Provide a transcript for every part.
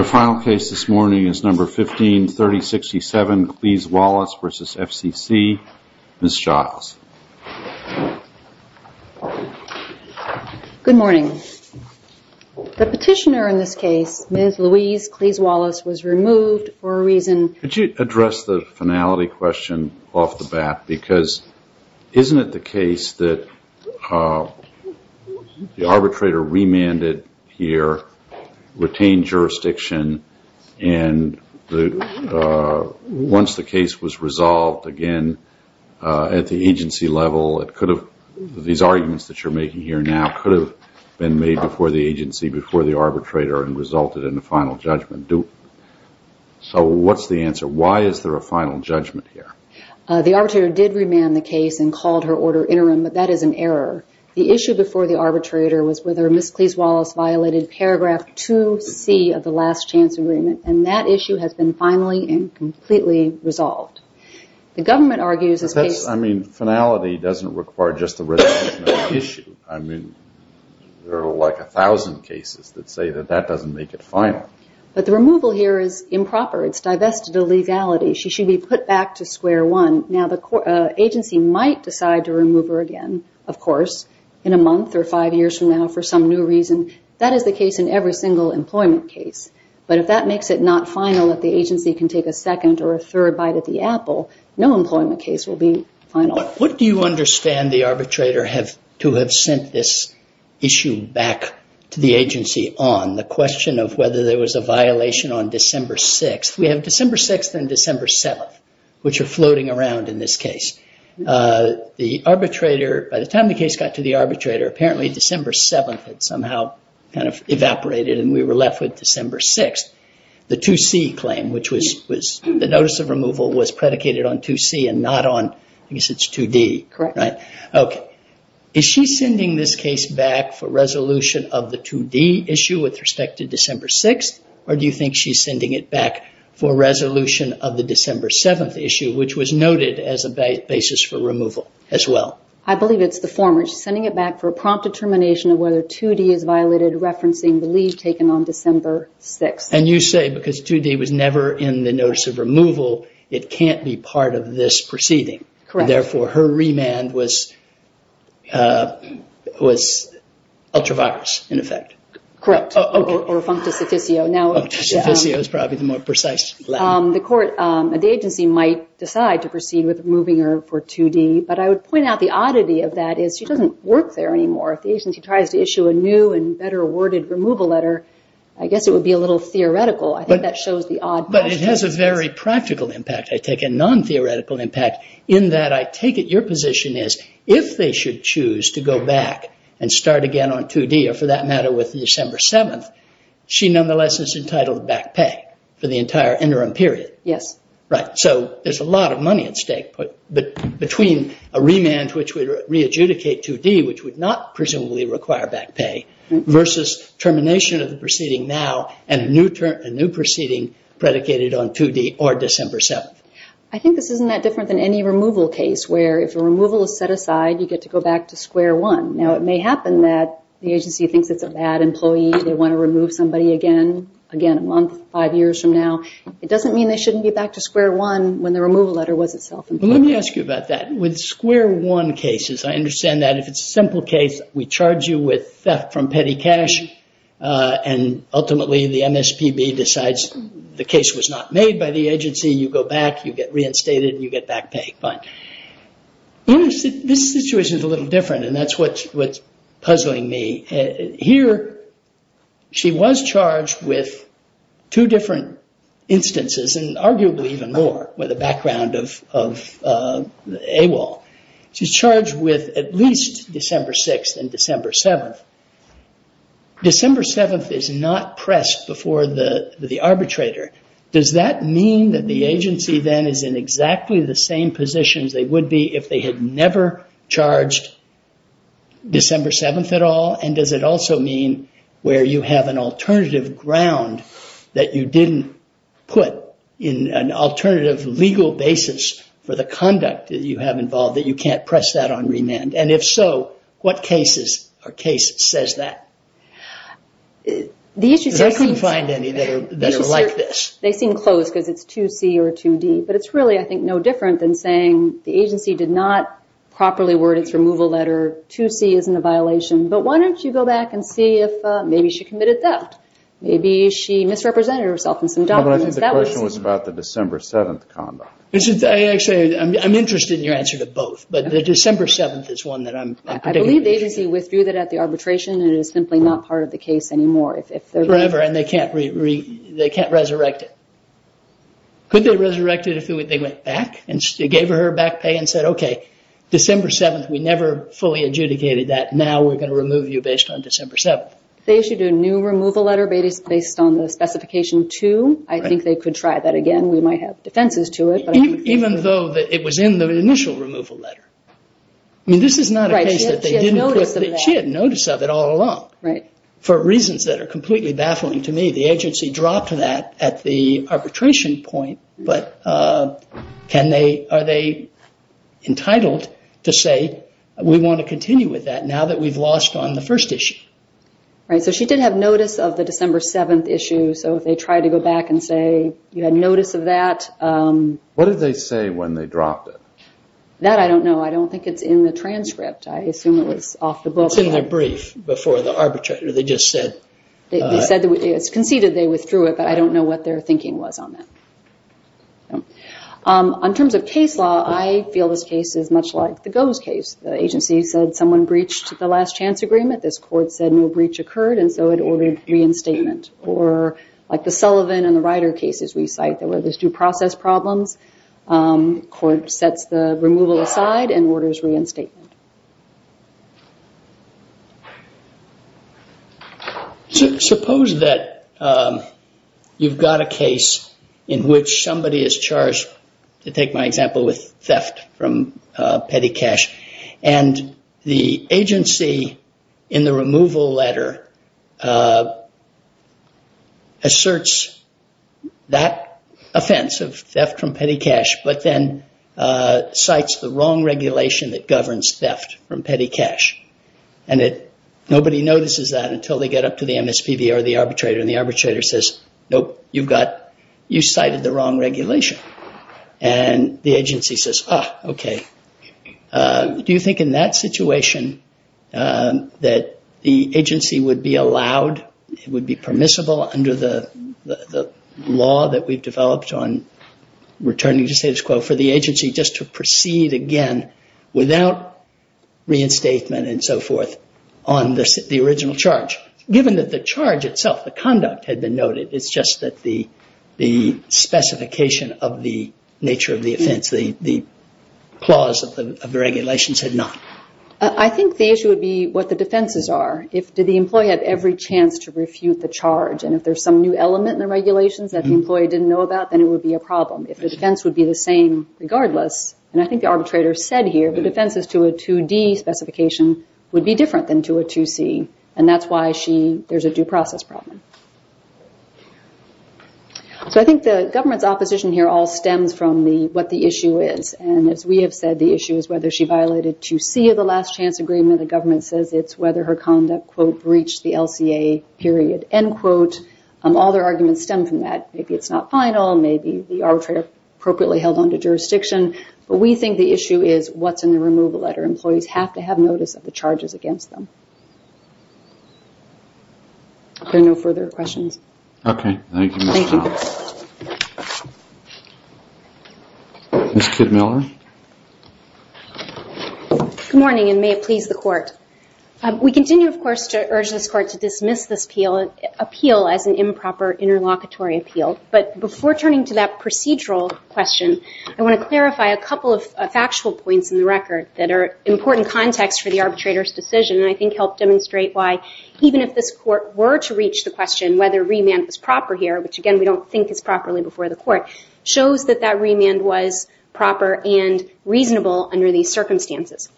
Good morning. The petitioner in this case, Ms. Louise Clees-Wallace, was removed for a reason. Could you address the finality question off the bat, because isn't it the case that the arbitrator remanded here, retained jurisdiction, and once the case was resolved again at the agency level, these arguments that you're making here now could have been made before the agency, before the arbitrator, and resulted in a final judgment. So what's the answer? Why is there a final judgment here? The arbitrator did remand the case and called her order interim, but that is an error. The issue before the arbitrator was whether Ms. Clees-Wallace violated paragraph 2C of the last chance agreement, and that issue has been finally and completely resolved. Finality doesn't require just a resolution of the issue. There are like a thousand cases that say that that doesn't make it final. But the removal here is improper. It's divested of legality. She should be put back to square one. Now the agency might decide to remove her again, of course, in a month or five years from now for some new reason. That is the case in every single employment case, but if that makes it not final that the agency can take a second or a third bite at the apple, no employment case will be final. What do you understand the arbitrator to have sent this issue back to the agency on? The question of whether there was a violation on December 6th. We have December 6th and December 7th, which are floating around in this case. By the time the case got to the arbitrator, apparently December 7th had somehow evaporated and we were left with December 6th. The 2C claim, which was the notice of removal, was predicated on 2C and not on 2D. Is she sending this case back for resolution of the 2D issue with respect to December 6th, or do you think she's sending it back for resolution of the December 7th issue, which was noted as a basis for removal as well? I believe it's the former. She's sending it back for a prompt determination of whether 2D is violated, referencing the leave taken on December 6th. You say because 2D was never in the notice of removal, it can't be part of this proceeding. Correct. Therefore, her remand was ultra-virus in effect. Correct, or functus officio. Functus officio is probably the more precise Latin. The agency might decide to proceed with removing her for 2D, but I would point out the oddity of that is she doesn't work there anymore. If the agency tries to issue a new and better worded removal letter, I guess it would be a little theoretical. I think that shows the odd... No, but it has a very practical impact. I take a non-theoretical impact in that I take it your position is if they should choose to go back and start again on 2D, or for that matter with December 7th, she nonetheless is entitled to back pay for the entire interim period. Yes. There's a lot of money at stake between a remand which would re-adjudicate 2D, which would not presumably require back pay, versus termination of the proceeding now and a new proceeding predicated on 2D or December 7th. I think this isn't that different than any removal case where if a removal is set aside, you get to go back to square one. Now, it may happen that the agency thinks it's a bad employee, they want to remove somebody again, again a month, five years from now. It doesn't mean they shouldn't be back to square one when the removal letter was itself. Let me ask you about that. With square one cases, I understand that if it's a simple case, we charge you with theft from petty cash, and ultimately the MSPB decides the case was not made by the agency, you go back, you get reinstated, and you get back pay. This situation is a little different, and that's what's puzzling me. Here, she was charged with two different instances, and arguably even more, with the background of AWOL. She's charged with at least December 6th and December 7th. December 7th is not pressed before the arbitrator. Does that mean that the agency then is in exactly the same positions they would be if they had never charged December 7th at all? Does it also mean where you have an alternative ground that you didn't put in an alternative legal basis for the conduct that you have involved that you can't press that on remand? If so, what case says that? I couldn't find any that are like this. They seem close because it's 2C or 2D, but it's really, I think, no different than saying the agency did not properly word its removal letter, 2C isn't a violation, but why don't you go back and see if maybe she committed theft. Maybe she misrepresented herself in some documents. I think the question was about the December 7th conduct. I'm interested in your answer to both, but the December 7th is one that I'm particularly interested in. I believe the agency withdrew that at the arbitration, and it is simply not part of the case anymore. Forever, and they can't resurrect it. Could they resurrect it if they went back and gave her her back pay and said, okay, December 7th, we never fully adjudicated that, now we're going to remove you based on December 7th. They issued a new removal letter based on the specification 2. I think they could try that again. We might have defenses to it. Even though it was in the initial removal letter. This is not a case that they didn't put. She had notice of it all along. For reasons that are completely baffling to me, the agency dropped that at the arbitration point, but are they entitled to say, we want to continue with that now that we've lost on the first issue? Right, so she did have notice of the December 7th issue, so if they tried to go back and say you had notice of that. What did they say when they dropped it? That I don't know. I don't think it's in the transcript. I assume it was off the book. It's in their brief before the arbitration. They just said. It's conceded they withdrew it, but I don't know what their thinking was on that. In terms of case law, I feel this case is much like the GOES case. The agency said someone breached the last chance agreement. This court said no breach occurred, and so it ordered reinstatement. Or like the Sullivan and the Ryder cases we cite, there were these due process problems. The court sets the removal aside and orders reinstatement. Suppose that you've got a case in which somebody is charged, to take my example, with theft from petty cash, and the agency in the removal letter asserts that offense of theft from petty cash, but then cites the wrong regulation that governs theft from petty cash. Nobody notices that until they get up to the MSPB or the arbitrator, and the arbitrator says, nope, you cited the wrong regulation. And the agency says, ah, okay. Do you think in that situation that the agency would be allowed, would be permissible under the law that we've developed on returning to status quo, for the agency just to proceed again without reinstatement and so forth on the original charge? Given that the charge itself, the conduct had been noted, it's just that the specification of the nature of the offense, the clause of the regulations had not. I think the issue would be what the defenses are. Did the employee have every chance to refute the charge? And if there's some new element in the regulations that the employee didn't know about, then it would be a problem. If the defense would be the same regardless, and I think the arbitrator said here, the defenses to a 2D specification would be different than to a 2C. And that's why there's a due process problem. So I think the government's opposition here all stems from what the issue is. And as we have said, the issue is whether she violated 2C of the last chance agreement. The government says it's whether her conduct, quote, breached the LCA, period, end quote. All their arguments stem from that. Maybe it's not final. Maybe the arbitrator appropriately held on to jurisdiction. But we think the issue is what's in the removal letter. Employees have to have notice of the charges against them. Are there no further questions? Okay. Thank you, Ms. Knapp. Thank you. Ms. Kidmiller? Good morning, and may it please the Court. We continue, of course, to urge this Court to dismiss this appeal as an improper interlocutory appeal. But before turning to that procedural question, I want to clarify a couple of factual points in the record that are important context for the arbitrator's decision, and I think help demonstrate why even if this Court were to reach the question whether remand was proper here, which, again, we don't think is properly before the Court, shows that that remand was proper and reasonable under these circumstances.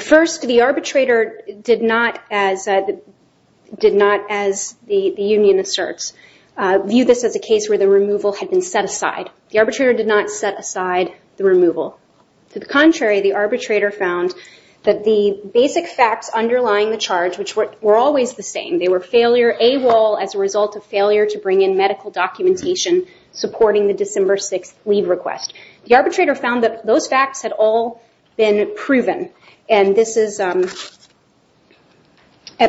First, the arbitrator did not, as the union asserts, view this as a case where the removal had been set aside. The arbitrator did not set aside the removal. To the contrary, the arbitrator found that the basic facts underlying the charge, which were always the same, they were failure, AWOL as a result of failure to bring in medical documentation supporting the December 6th leave request. The arbitrator found that those facts had all been proven, and this is at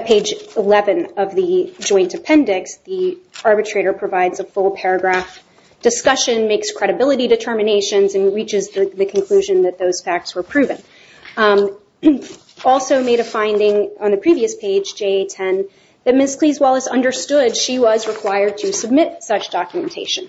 page 11 of the joint appendix. The arbitrator provides a full paragraph discussion, makes credibility determinations, and reaches the conclusion that those facts were proven. Also made a finding on the previous page, JA-10, that Ms. Cleese-Wallace understood she was required to submit such documentation.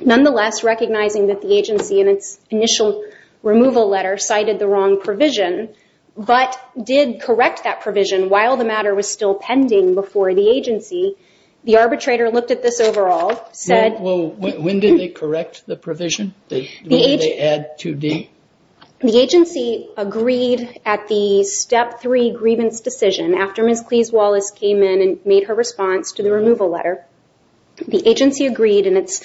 Nonetheless, recognizing that the agency, in its initial removal letter, cited the wrong provision, but did correct that provision while the matter was still pending before the agency, the arbitrator looked at this overall, said... When did they correct the provision? When did they add 2D? The agency agreed at the Step 3 grievance decision, after Ms. Cleese-Wallace came in and made her response to the removal letter. The agency agreed in its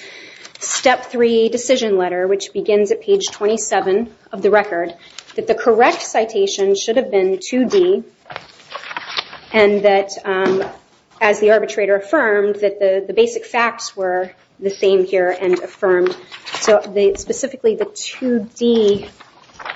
Step 3 decision letter, which begins at page 27 of the record, that the correct citation should have been 2D, and that, as the arbitrator affirmed, that the basic facts were the same here and affirmed. So, specifically, the 2D... I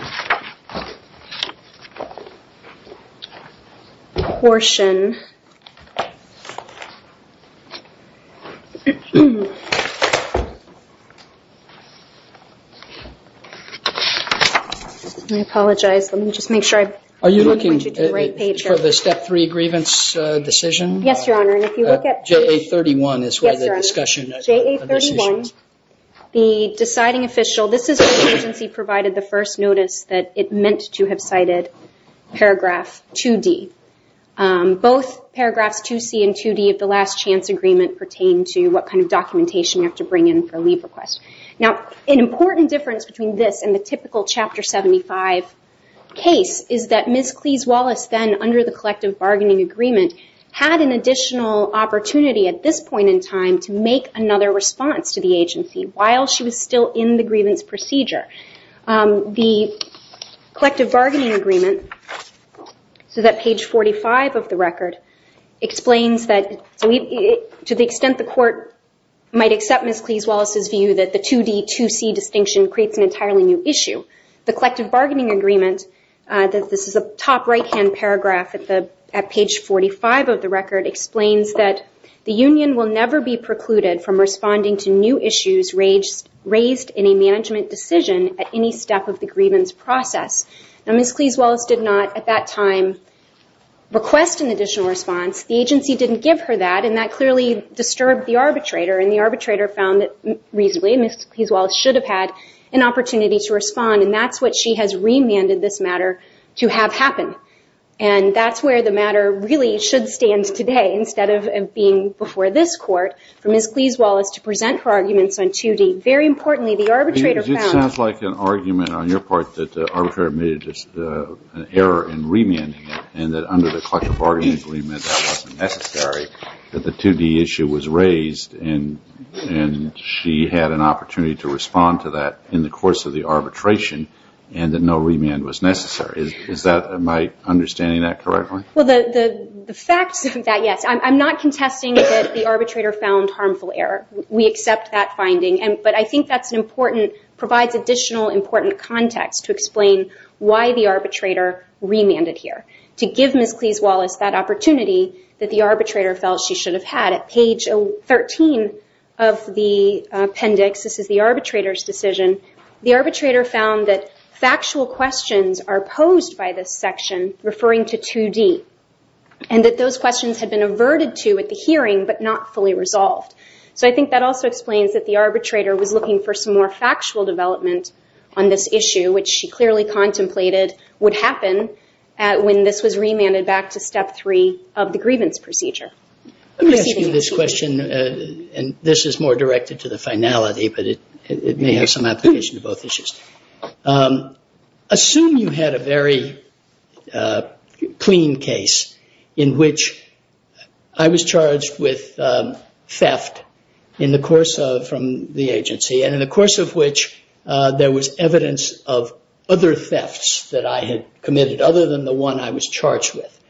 apologize. Let me just make sure I... Are you looking for the Step 3 grievance decision? Yes, Your Honor, and if you look at... JA-31 is where the discussion... Yes, Your Honor. JA-31. The deciding official... This is when the agency provided the first notice that it meant to have cited paragraph 2D. Both paragraphs 2C and 2D of the last chance agreement are in the 2D. documentation you have to bring in for a leave request. Now, an important difference between this and the typical Chapter 75 case is that Ms. Cleese-Wallace then, under the collective bargaining agreement, had an additional opportunity at this point in time to make another response to the agency while she was still in the grievance procedure. The collective bargaining agreement, so that page 45 of the record, explains that to the extent the court might accept Ms. Cleese-Wallace's view that the 2D, 2C distinction creates an entirely new issue. The collective bargaining agreement, this is a top right-hand paragraph at page 45 of the record, explains that the union will never be precluded from responding to new issues raised in a management decision at any step of the grievance process. Now, Ms. Cleese-Wallace did not, at that time, request an additional response. The agency didn't give her that, and that clearly disturbed the arbitrator, and the arbitrator found that, reasonably, Ms. Cleese-Wallace should have had an opportunity to respond, and that's what she has remanded this matter to have happen. And that's where the matter really should stand today instead of being before this court for Ms. Cleese-Wallace to present her arguments on 2D. Very importantly, the arbitrator found... It sounds like an argument on your part that the arbitrator made an error in remanding it and that under the collective bargaining agreement that wasn't necessary, that the 2D issue was raised and she had an opportunity to respond to that in the course of the arbitration and that no remand was necessary. Is that... Am I understanding that correctly? Well, the facts of that, yes. I'm not contesting that the arbitrator found harmful error. We accept that finding, but I think that's an important... provides additional important context to explain why the arbitrator remanded here, to give Ms. Cleese-Wallace that opportunity that the arbitrator felt she should have had. At page 13 of the appendix, this is the arbitrator's decision, the arbitrator found that factual questions are posed by this section referring to 2D and that those questions had been averted to at the hearing but not fully resolved. So I think that also explains that the arbitrator was looking for some more factual development on this issue, which she clearly contemplated would happen when this was remanded back to Step 3 of the grievance procedure. Let me ask you this question, and this is more directed to the finality, but it may have some application to both issues. Assume you had a very clean case in which I was charged with theft in the course of... from the agency, and in the course of which there was evidence of other thefts that I had committed other than the one I was charged with.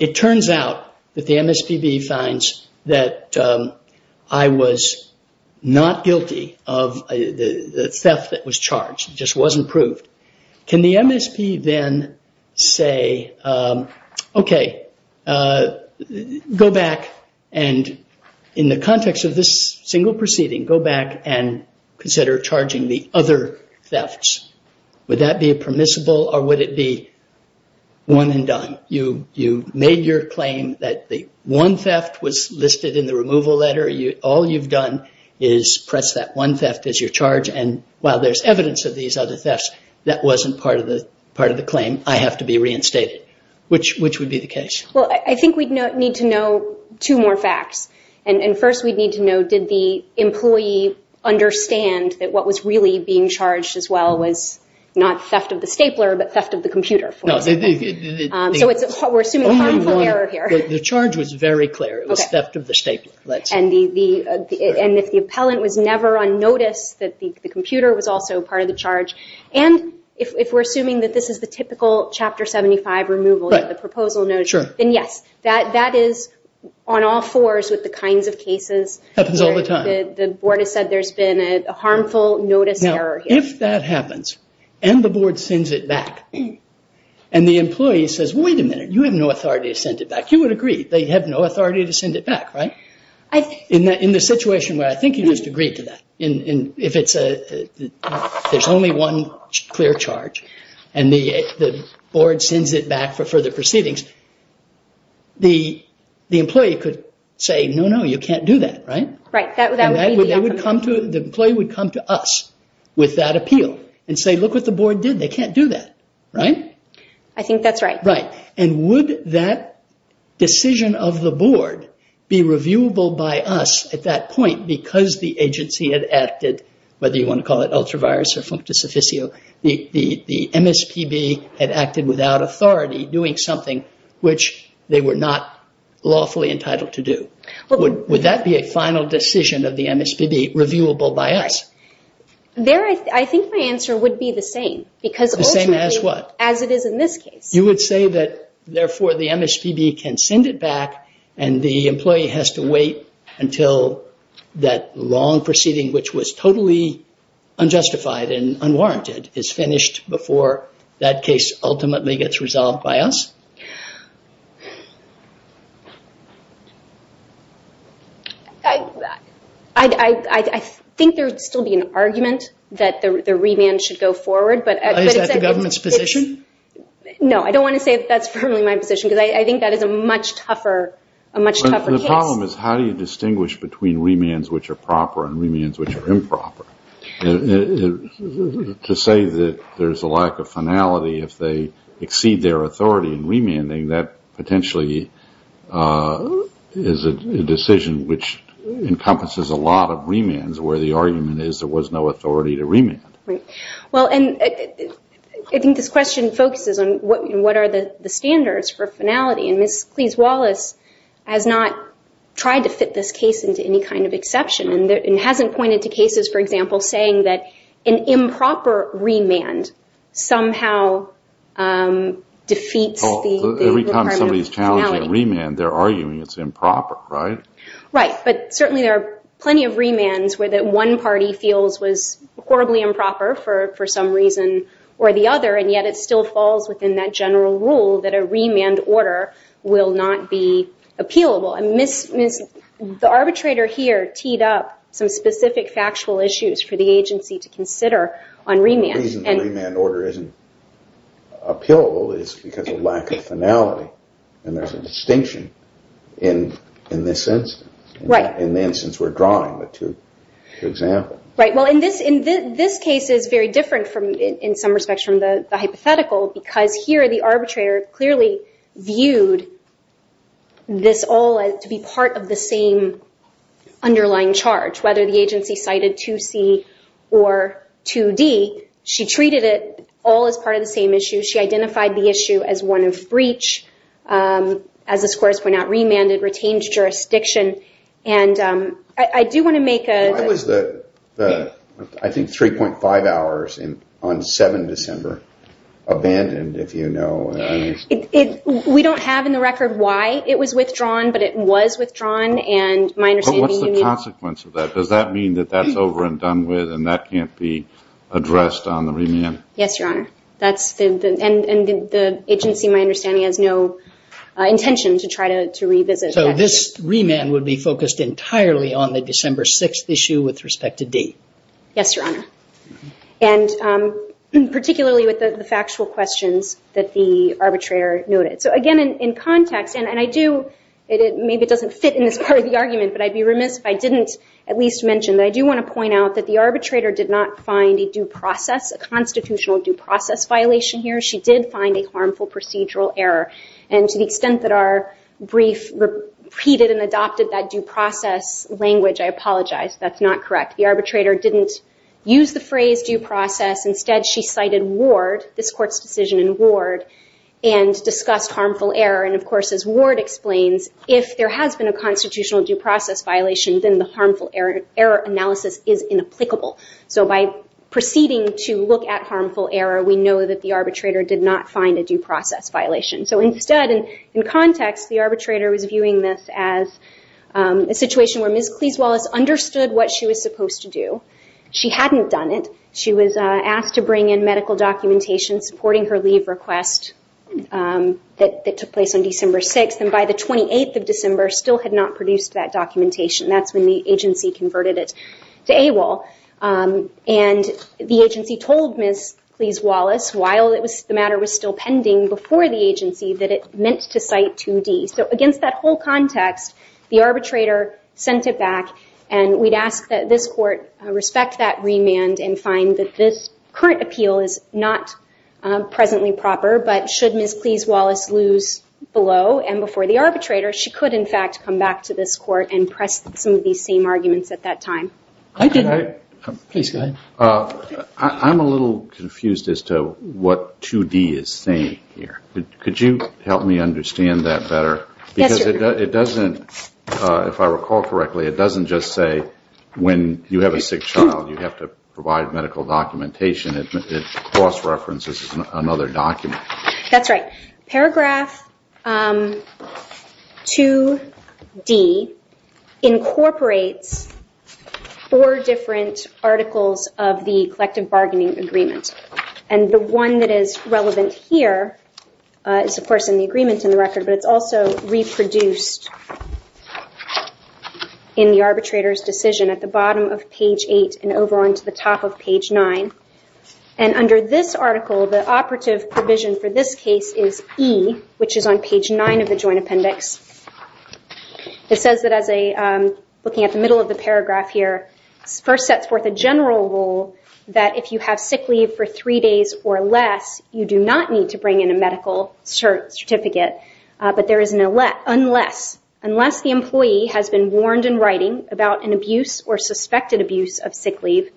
It turns out that the MSPB finds that I was not guilty of the theft that was charged, it just wasn't proved. Can the MSPB then say, OK, go back and in the context of this single proceeding, go back and consider charging the other thefts? Would that be permissible, or would it be one and done? You made your claim that the one theft was listed in the removal letter. All you've done is press that one theft as your charge, and while there's evidence of these other thefts, that wasn't part of the claim. I have to be reinstated. Which would be the case? Well, I think we'd need to know two more facts. And first we'd need to know, did the employee understand that what was really being charged as well was not theft of the stapler, but theft of the computer, for example. So we're assuming harmful error here. The charge was very clear. It was theft of the stapler. And if the appellant was never on notice that the computer was also part of the charge, and if we're assuming that this is the typical Chapter 75 removal, the proposal notice, then yes, that is on all fours with the kinds of cases where the board has said there's been a harmful notice error here. Now, if that happens, and the board sends it back, and the employee says, wait a minute, you have no authority to send it back, you would agree they have no authority to send it back, right? In the situation where I think you just agreed to that, if there's only one clear charge, and the board sends it back for further proceedings, the employee could say, no, no, you can't do that, right? Right. The employee would come to us with that appeal and say, look what the board did. They can't do that, right? I think that's right. Right. And would that decision of the board be reviewable by us at that point because the agency had acted, whether you want to call it ultra-virus or functus officio, the MSPB had acted without authority doing something which they were not lawfully entitled to do. Would that be a final decision of the MSPB, reviewable by us? Right. I think my answer would be the same. The same as what? As it is in this case. You would say that, therefore, the MSPB can send it back, and the employee has to wait until that long proceeding which was totally unjustified and unwarranted is finished before that case ultimately gets resolved by us? I think there would still be an argument that the remand should go forward. Is that the government's position? No, I don't want to say that's firmly my position because I think that is a much tougher case. The problem is how do you distinguish between remands which are proper and remands which are improper? To say that there's a lack of finality if they exceed their authority in remanding, that potentially is a decision which encompasses a lot of remands where the argument is there was no authority to remand. I think this question focuses on what are the standards for finality, and Ms. Cleese-Wallace has not tried to fit this case into any kind of exception and hasn't pointed to cases, for example, saying that an improper remand somehow defeats the requirement of finality. Every time somebody's challenging a remand, they're arguing it's improper, right? Right, but certainly there are plenty of remands where that one party feels was horribly improper for some reason or the other, and yet it still falls within that general rule that a remand order will not be appealable. The arbitrator here teed up some specific factual issues for the agency to consider on remand. The reason the remand order isn't appealable is because of lack of finality, and there's a distinction in this instance, in the instance we're drawing the two examples. Right, well, this case is very different in some respects from the hypothetical because here the arbitrator clearly viewed this all to be part of the same underlying charge. Whether the agency cited 2C or 2D, she treated it all as part of the same issue. She identified the issue as one of breach, as the scores point out, remanded, retained jurisdiction, and I do want to make a... How is the, I think, 3.5 hours on 7 December abandoned, if you know? We don't have in the record why it was withdrawn, but it was withdrawn, and my understanding... But what's the consequence of that? Does that mean that that's over and done with and that can't be addressed on the remand? Yes, Your Honor, and the agency, my understanding, has no intention to try to revisit that issue. This remand would be focused entirely on the December 6th issue with respect to D. Yes, Your Honor, and particularly with the factual questions that the arbitrator noted. So, again, in context, and I do... Maybe it doesn't fit in this part of the argument, but I'd be remiss if I didn't at least mention that I do want to point out that the arbitrator did not find a due process, a constitutional due process violation here. She did find a harmful procedural error, and to the extent that our brief repeated and adopted that due process language, I apologize. That's not correct. The arbitrator didn't use the phrase due process. Instead, she cited Ward, this Court's decision in Ward, and discussed harmful error. And, of course, as Ward explains, if there has been a constitutional due process violation, then the harmful error analysis is inapplicable. So by proceeding to look at harmful error, we know that the arbitrator did not find a due process violation. So instead, in context, the arbitrator was viewing this as a situation where Ms. Cleese-Wallace understood what she was supposed to do. She hadn't done it. She was asked to bring in medical documentation supporting her leave request that took place on December 6th, and by the 28th of December still had not produced that documentation. That's when the agency converted it to AWOL. And the agency told Ms. Cleese-Wallace, while the matter was still pending before the agency, that it meant to cite 2D. So against that whole context, the arbitrator sent it back, and we'd ask that this Court respect that remand and find that this current appeal is not presently proper, but should Ms. Cleese-Wallace lose below and before the arbitrator, she could, in fact, come back to this Court and press some of these same arguments at that time. I'm a little confused as to what 2D is saying here. Could you help me understand that better? Because it doesn't, if I recall correctly, it doesn't just say when you have a sick child you have to provide medical documentation. It cross-references another document. That's right. Paragraph 2D incorporates four different articles of the collective bargaining agreement. And the one that is relevant here is, of course, in the agreement in the record, but it's also reproduced in the arbitrator's decision at the bottom of page 8 and over onto the top of page 9. And under this article, the operative provision for this case is E, which is on page 9 of the joint appendix. It says that as a, looking at the middle of the paragraph here, first sets forth a general rule that if you have sick leave for three days or less, you do not need to bring in a medical certificate, but there is an unless. Unless the employee has been warned in writing about an abuse or suspected abuse of sick leave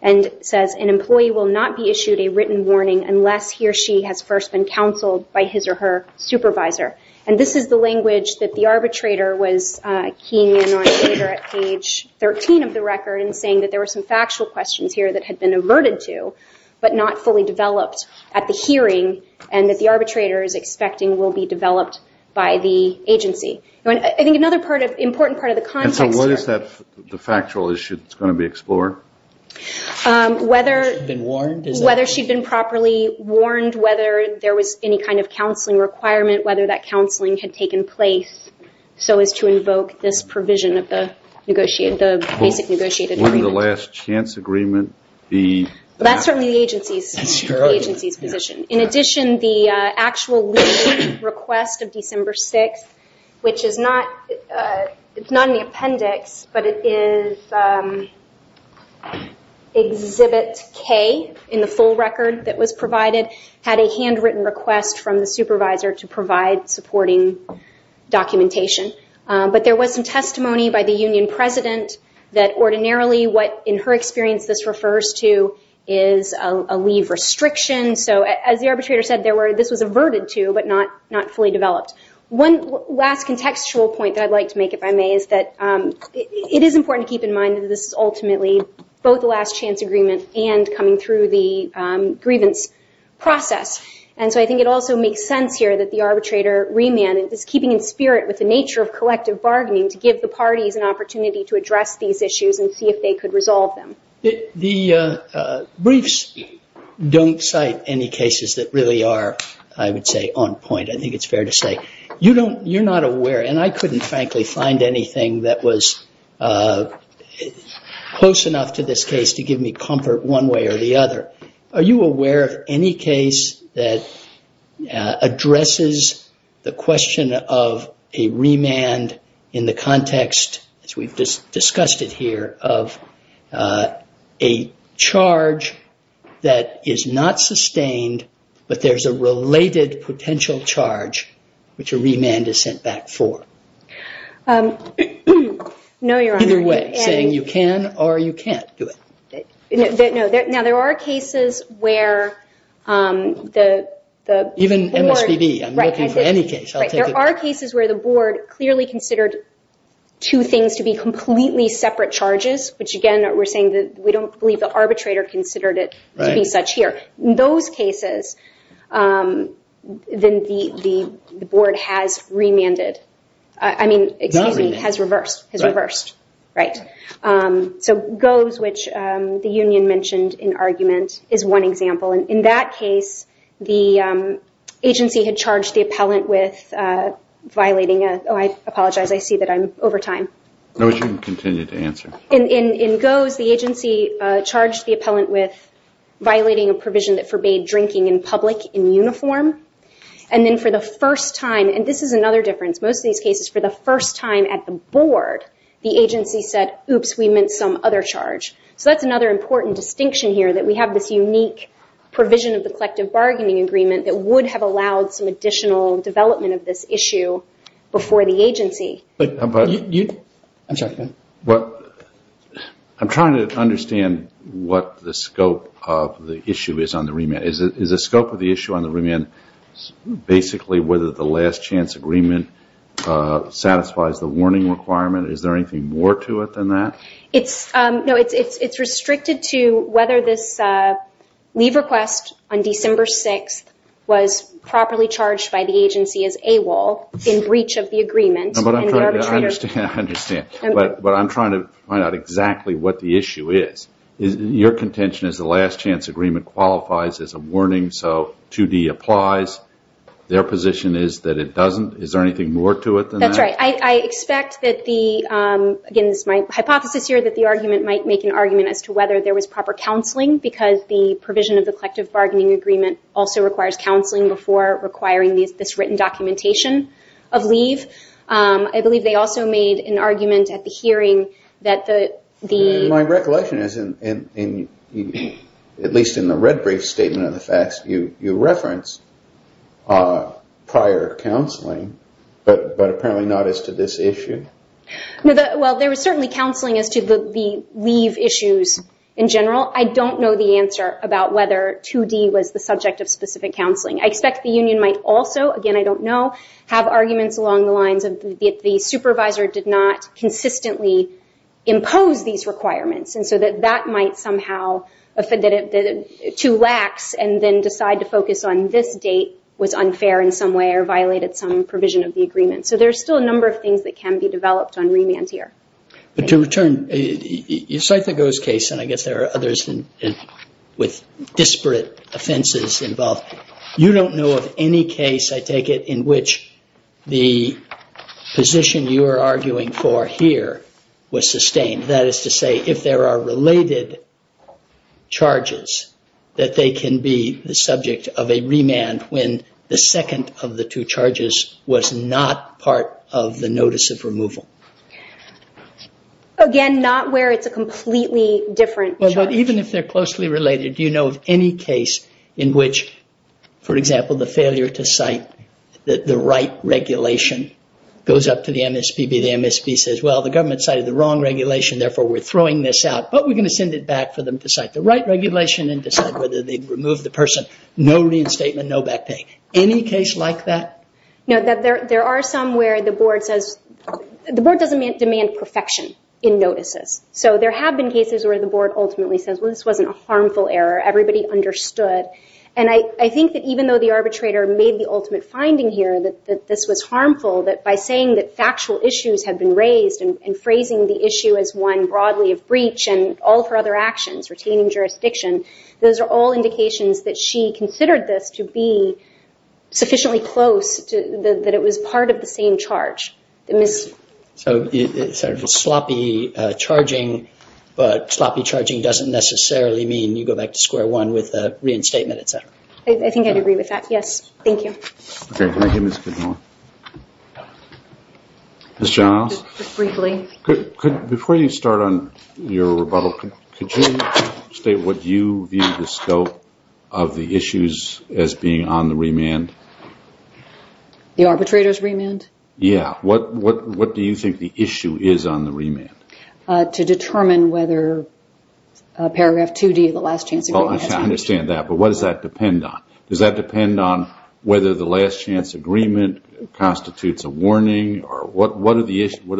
and says an employee will not be issued a written warning unless he or she has first been counseled by his or her supervisor. And this is the language that the arbitrator was keying in on later at page 13 of the record and saying that there were some factual questions here that had been averted to, but not fully developed at the hearing and that the arbitrator is expecting will be developed by the agency. I think another important part of the context here... Whether she'd been properly warned, whether there was any kind of counseling requirement, whether that counseling had taken place so as to invoke this provision of the basic negotiated agreement. Wouldn't the last chance agreement be... That's certainly the agency's position. In addition, the actual leave request of December 6th, which is not in the appendix, but it is Exhibit K in the full record that was provided, had a handwritten request from the supervisor to provide supporting documentation. But there was some testimony by the union president that ordinarily what, in her experience, this refers to is a leave restriction. So as the arbitrator said, this was averted to, but not fully developed. One last contextual point that I'd like to make, if I may, is that it is important to keep in mind that this is ultimately both a last chance agreement and coming through the grievance process. And so I think it also makes sense here that the arbitrator remanded this, keeping in spirit with the nature of collective bargaining, to give the parties an opportunity to address these issues and see if they could resolve them. The briefs don't cite any cases that really are, I would say, on point. I think it's fair to say. You're not aware, and I couldn't, frankly, find anything that was close enough to this case to give me comfort one way or the other. Are you aware of any case that addresses the question of a remand in the context, as we've discussed it here, of a charge that is not sustained, but there's a related potential charge which a remand is sent back for? No, Your Honor. Either way, saying you can or you can't do it. Now, there are cases where the board... Even MSPB. I'm looking for any case. There are cases where the board clearly considered two things to be completely separate charges, which, again, we're saying that we don't believe the arbitrator considered it to be such here. In those cases, then the board has remanded. I mean, excuse me, has reversed. So GOES, which the union mentioned in argument, is one example. In that case, the agency had charged the appellant with violating a... Oh, I apologize. I see that I'm over time. No, you can continue to answer. In GOES, the agency charged the appellant with violating a provision that forbade drinking in public in uniform. And then for the first time... And this is another difference. Most of these cases, for the first time at the board, the agency said, oops, we meant some other charge. So that's another important distinction here, that we have this unique provision of the collective bargaining agreement that would have allowed some additional development of this issue before the agency. I'm sorry. I'm trying to understand what the scope of the issue is on the remand. Is the scope of the issue on the remand basically whether the last chance agreement satisfies the warning requirement? Is there anything more to it than that? No, it's restricted to whether this leave request on December 6th was properly charged by the agency as AWOL in breach of the agreement. I understand. But I'm trying to find out exactly what the issue is. Your contention is the last chance agreement qualifies as a warning, so 2D applies. Their position is that it doesn't. Is there anything more to it than that? That's right. I expect that the... Again, this is my hypothesis here, that the argument might make an argument as to whether there was proper counseling because the provision of the collective bargaining agreement also requires counseling before requiring this written documentation of leave. I believe they also made an argument at the hearing that the... My recollection is, at least in the red brief statement of the facts, you reference prior counseling, but apparently not as to this issue. Well, there was certainly counseling as to the leave issues in general. I don't know the answer about whether 2D was the subject of specific counseling. I expect the union might also, again, I don't know, have arguments along the lines of the supervisor did not consistently impose these requirements, and so that that might somehow... Too lax, and then decide to focus on this date was unfair in some way or violated some provision of the agreement. So there's still a number of things that can be developed on remand here. But to return, you cite the Gose case, and I guess there are others with disparate offenses involved. You don't know of any case, I take it, in which the position you are arguing for here was sustained. That is to say, if there are related charges, that they can be the subject of a remand when the second of the two charges was not part of the notice of removal. Again, not where it's a completely different charge. But even if they're closely related, do you know of any case in which, for example, the failure to cite the right regulation goes up to the MSPB, the MSP says, well, the government cited the wrong regulation, therefore we're throwing this out, but we're going to send it back for them to cite the right regulation and decide whether they remove the person. No reinstatement, no back pay. Any case like that? No, there are some where the board says... The board doesn't demand perfection in notices. So there have been cases where the board ultimately says, well, this wasn't a harmful error, everybody understood. And I think that even though the arbitrator made the ultimate finding here, that this was harmful, that by saying that factual issues had been raised and phrasing the issue as one broadly of breach and all of her other actions, retaining jurisdiction, those are all indications that she considered this to be sufficiently close, that it was part of the same charge. So it's sort of a sloppy charging, but sloppy charging doesn't necessarily mean you go back to square one with a reinstatement, et cetera. I think I'd agree with that, yes. Thank you. Okay, thank you, Ms. Kidmore. Ms. Johnhouse? Just briefly. Before you start on your rebuttal, could you state what you view the scope of the issues as being on the remand? The arbitrator's remand? Yeah. What do you think the issue is on the remand? To determine whether Paragraph 2D, the last chance agreement... I understand that, but what does that depend on? Does that depend on whether the last chance agreement constitutes a warning or what are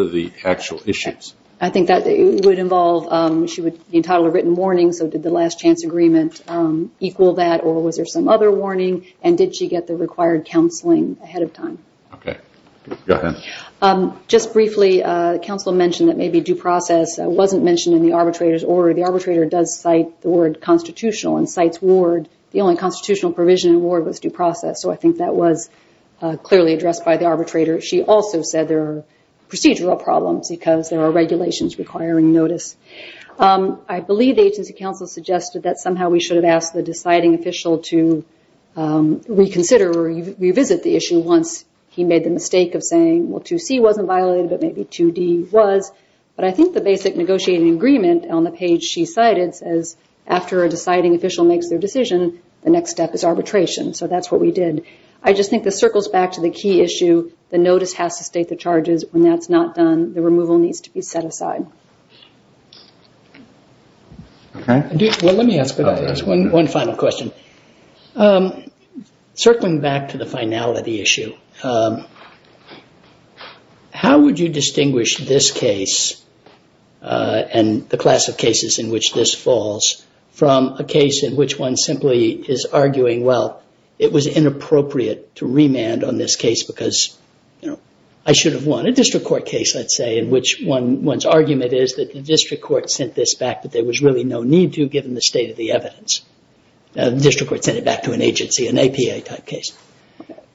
the actual issues? I think that would involve, she would be entitled to a written warning, so did the last chance agreement equal that or was there some other warning and did she get the required counseling ahead of time? Okay. Go ahead. Just briefly, the counsel mentioned that maybe due process wasn't mentioned in the arbitrator's order. The arbitrator does cite the word constitutional and cites ward. The only constitutional provision in ward was due process, so I think that was clearly addressed by the arbitrator. She also said there are procedural problems because there are regulations requiring notice. I believe the agency counsel suggested that somehow we should have asked the deciding official to reconsider or revisit the issue once he made the mistake of saying, well, 2C wasn't violated but maybe 2D was, but I think the basic negotiating agreement on the page she cited says after a deciding official makes their decision, the next step is arbitration, so that's what we did. I just think this circles back to the key issue. The notice has to state the charges. When that's not done, the removal needs to be set aside. Okay. Well, let me ask one final question. Circling back to the finality issue, how would you distinguish this case and the class of cases in which this falls from a case in which one simply is arguing, well, it was inappropriate to remand on this case because I should have won. A district court case, let's say, in which one's argument is that the district court sent this back but there was really no need to given the state of the evidence. The district court sent it back to an agency, an APA type case.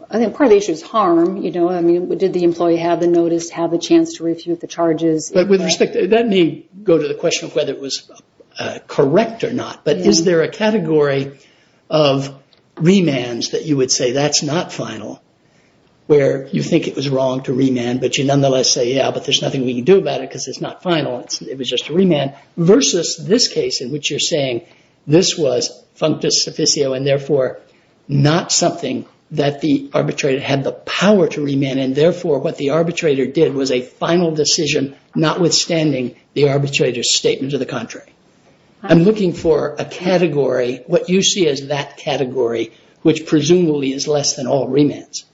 I think part of the issue is harm. Did the employee have the notice, have the chance to refute the charges? But with respect, that may go to the question of whether it was correct or not, but is there a category of remands that you would say that's not final where you think it was wrong to remand but you nonetheless say, yeah, but there's nothing we can do about it because it's not final. It was just a remand versus this case in which you're saying this was functus officio and therefore not something that the arbitrator had the power to remand and therefore what the arbitrator did was a final decision notwithstanding the arbitrator's statement to the contrary. I'm looking for a category, what you see as that category, which presumably is less than all remands.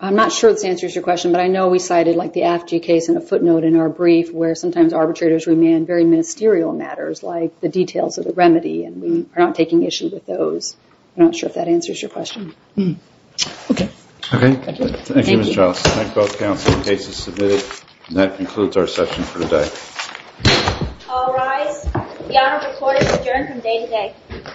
I'm not sure this answers your question, but I know we cited the AFG case in a footnote in our brief where sometimes arbitrators remand very ministerial matters like the details of the remedy and we are not taking issue with those. I'm not sure if that answers your question. Okay. Okay. Thank you, Ms. Charles. Thank both counsel and cases submitted. That concludes our session for today. All rise. The Honorable Court is adjourned from day to day.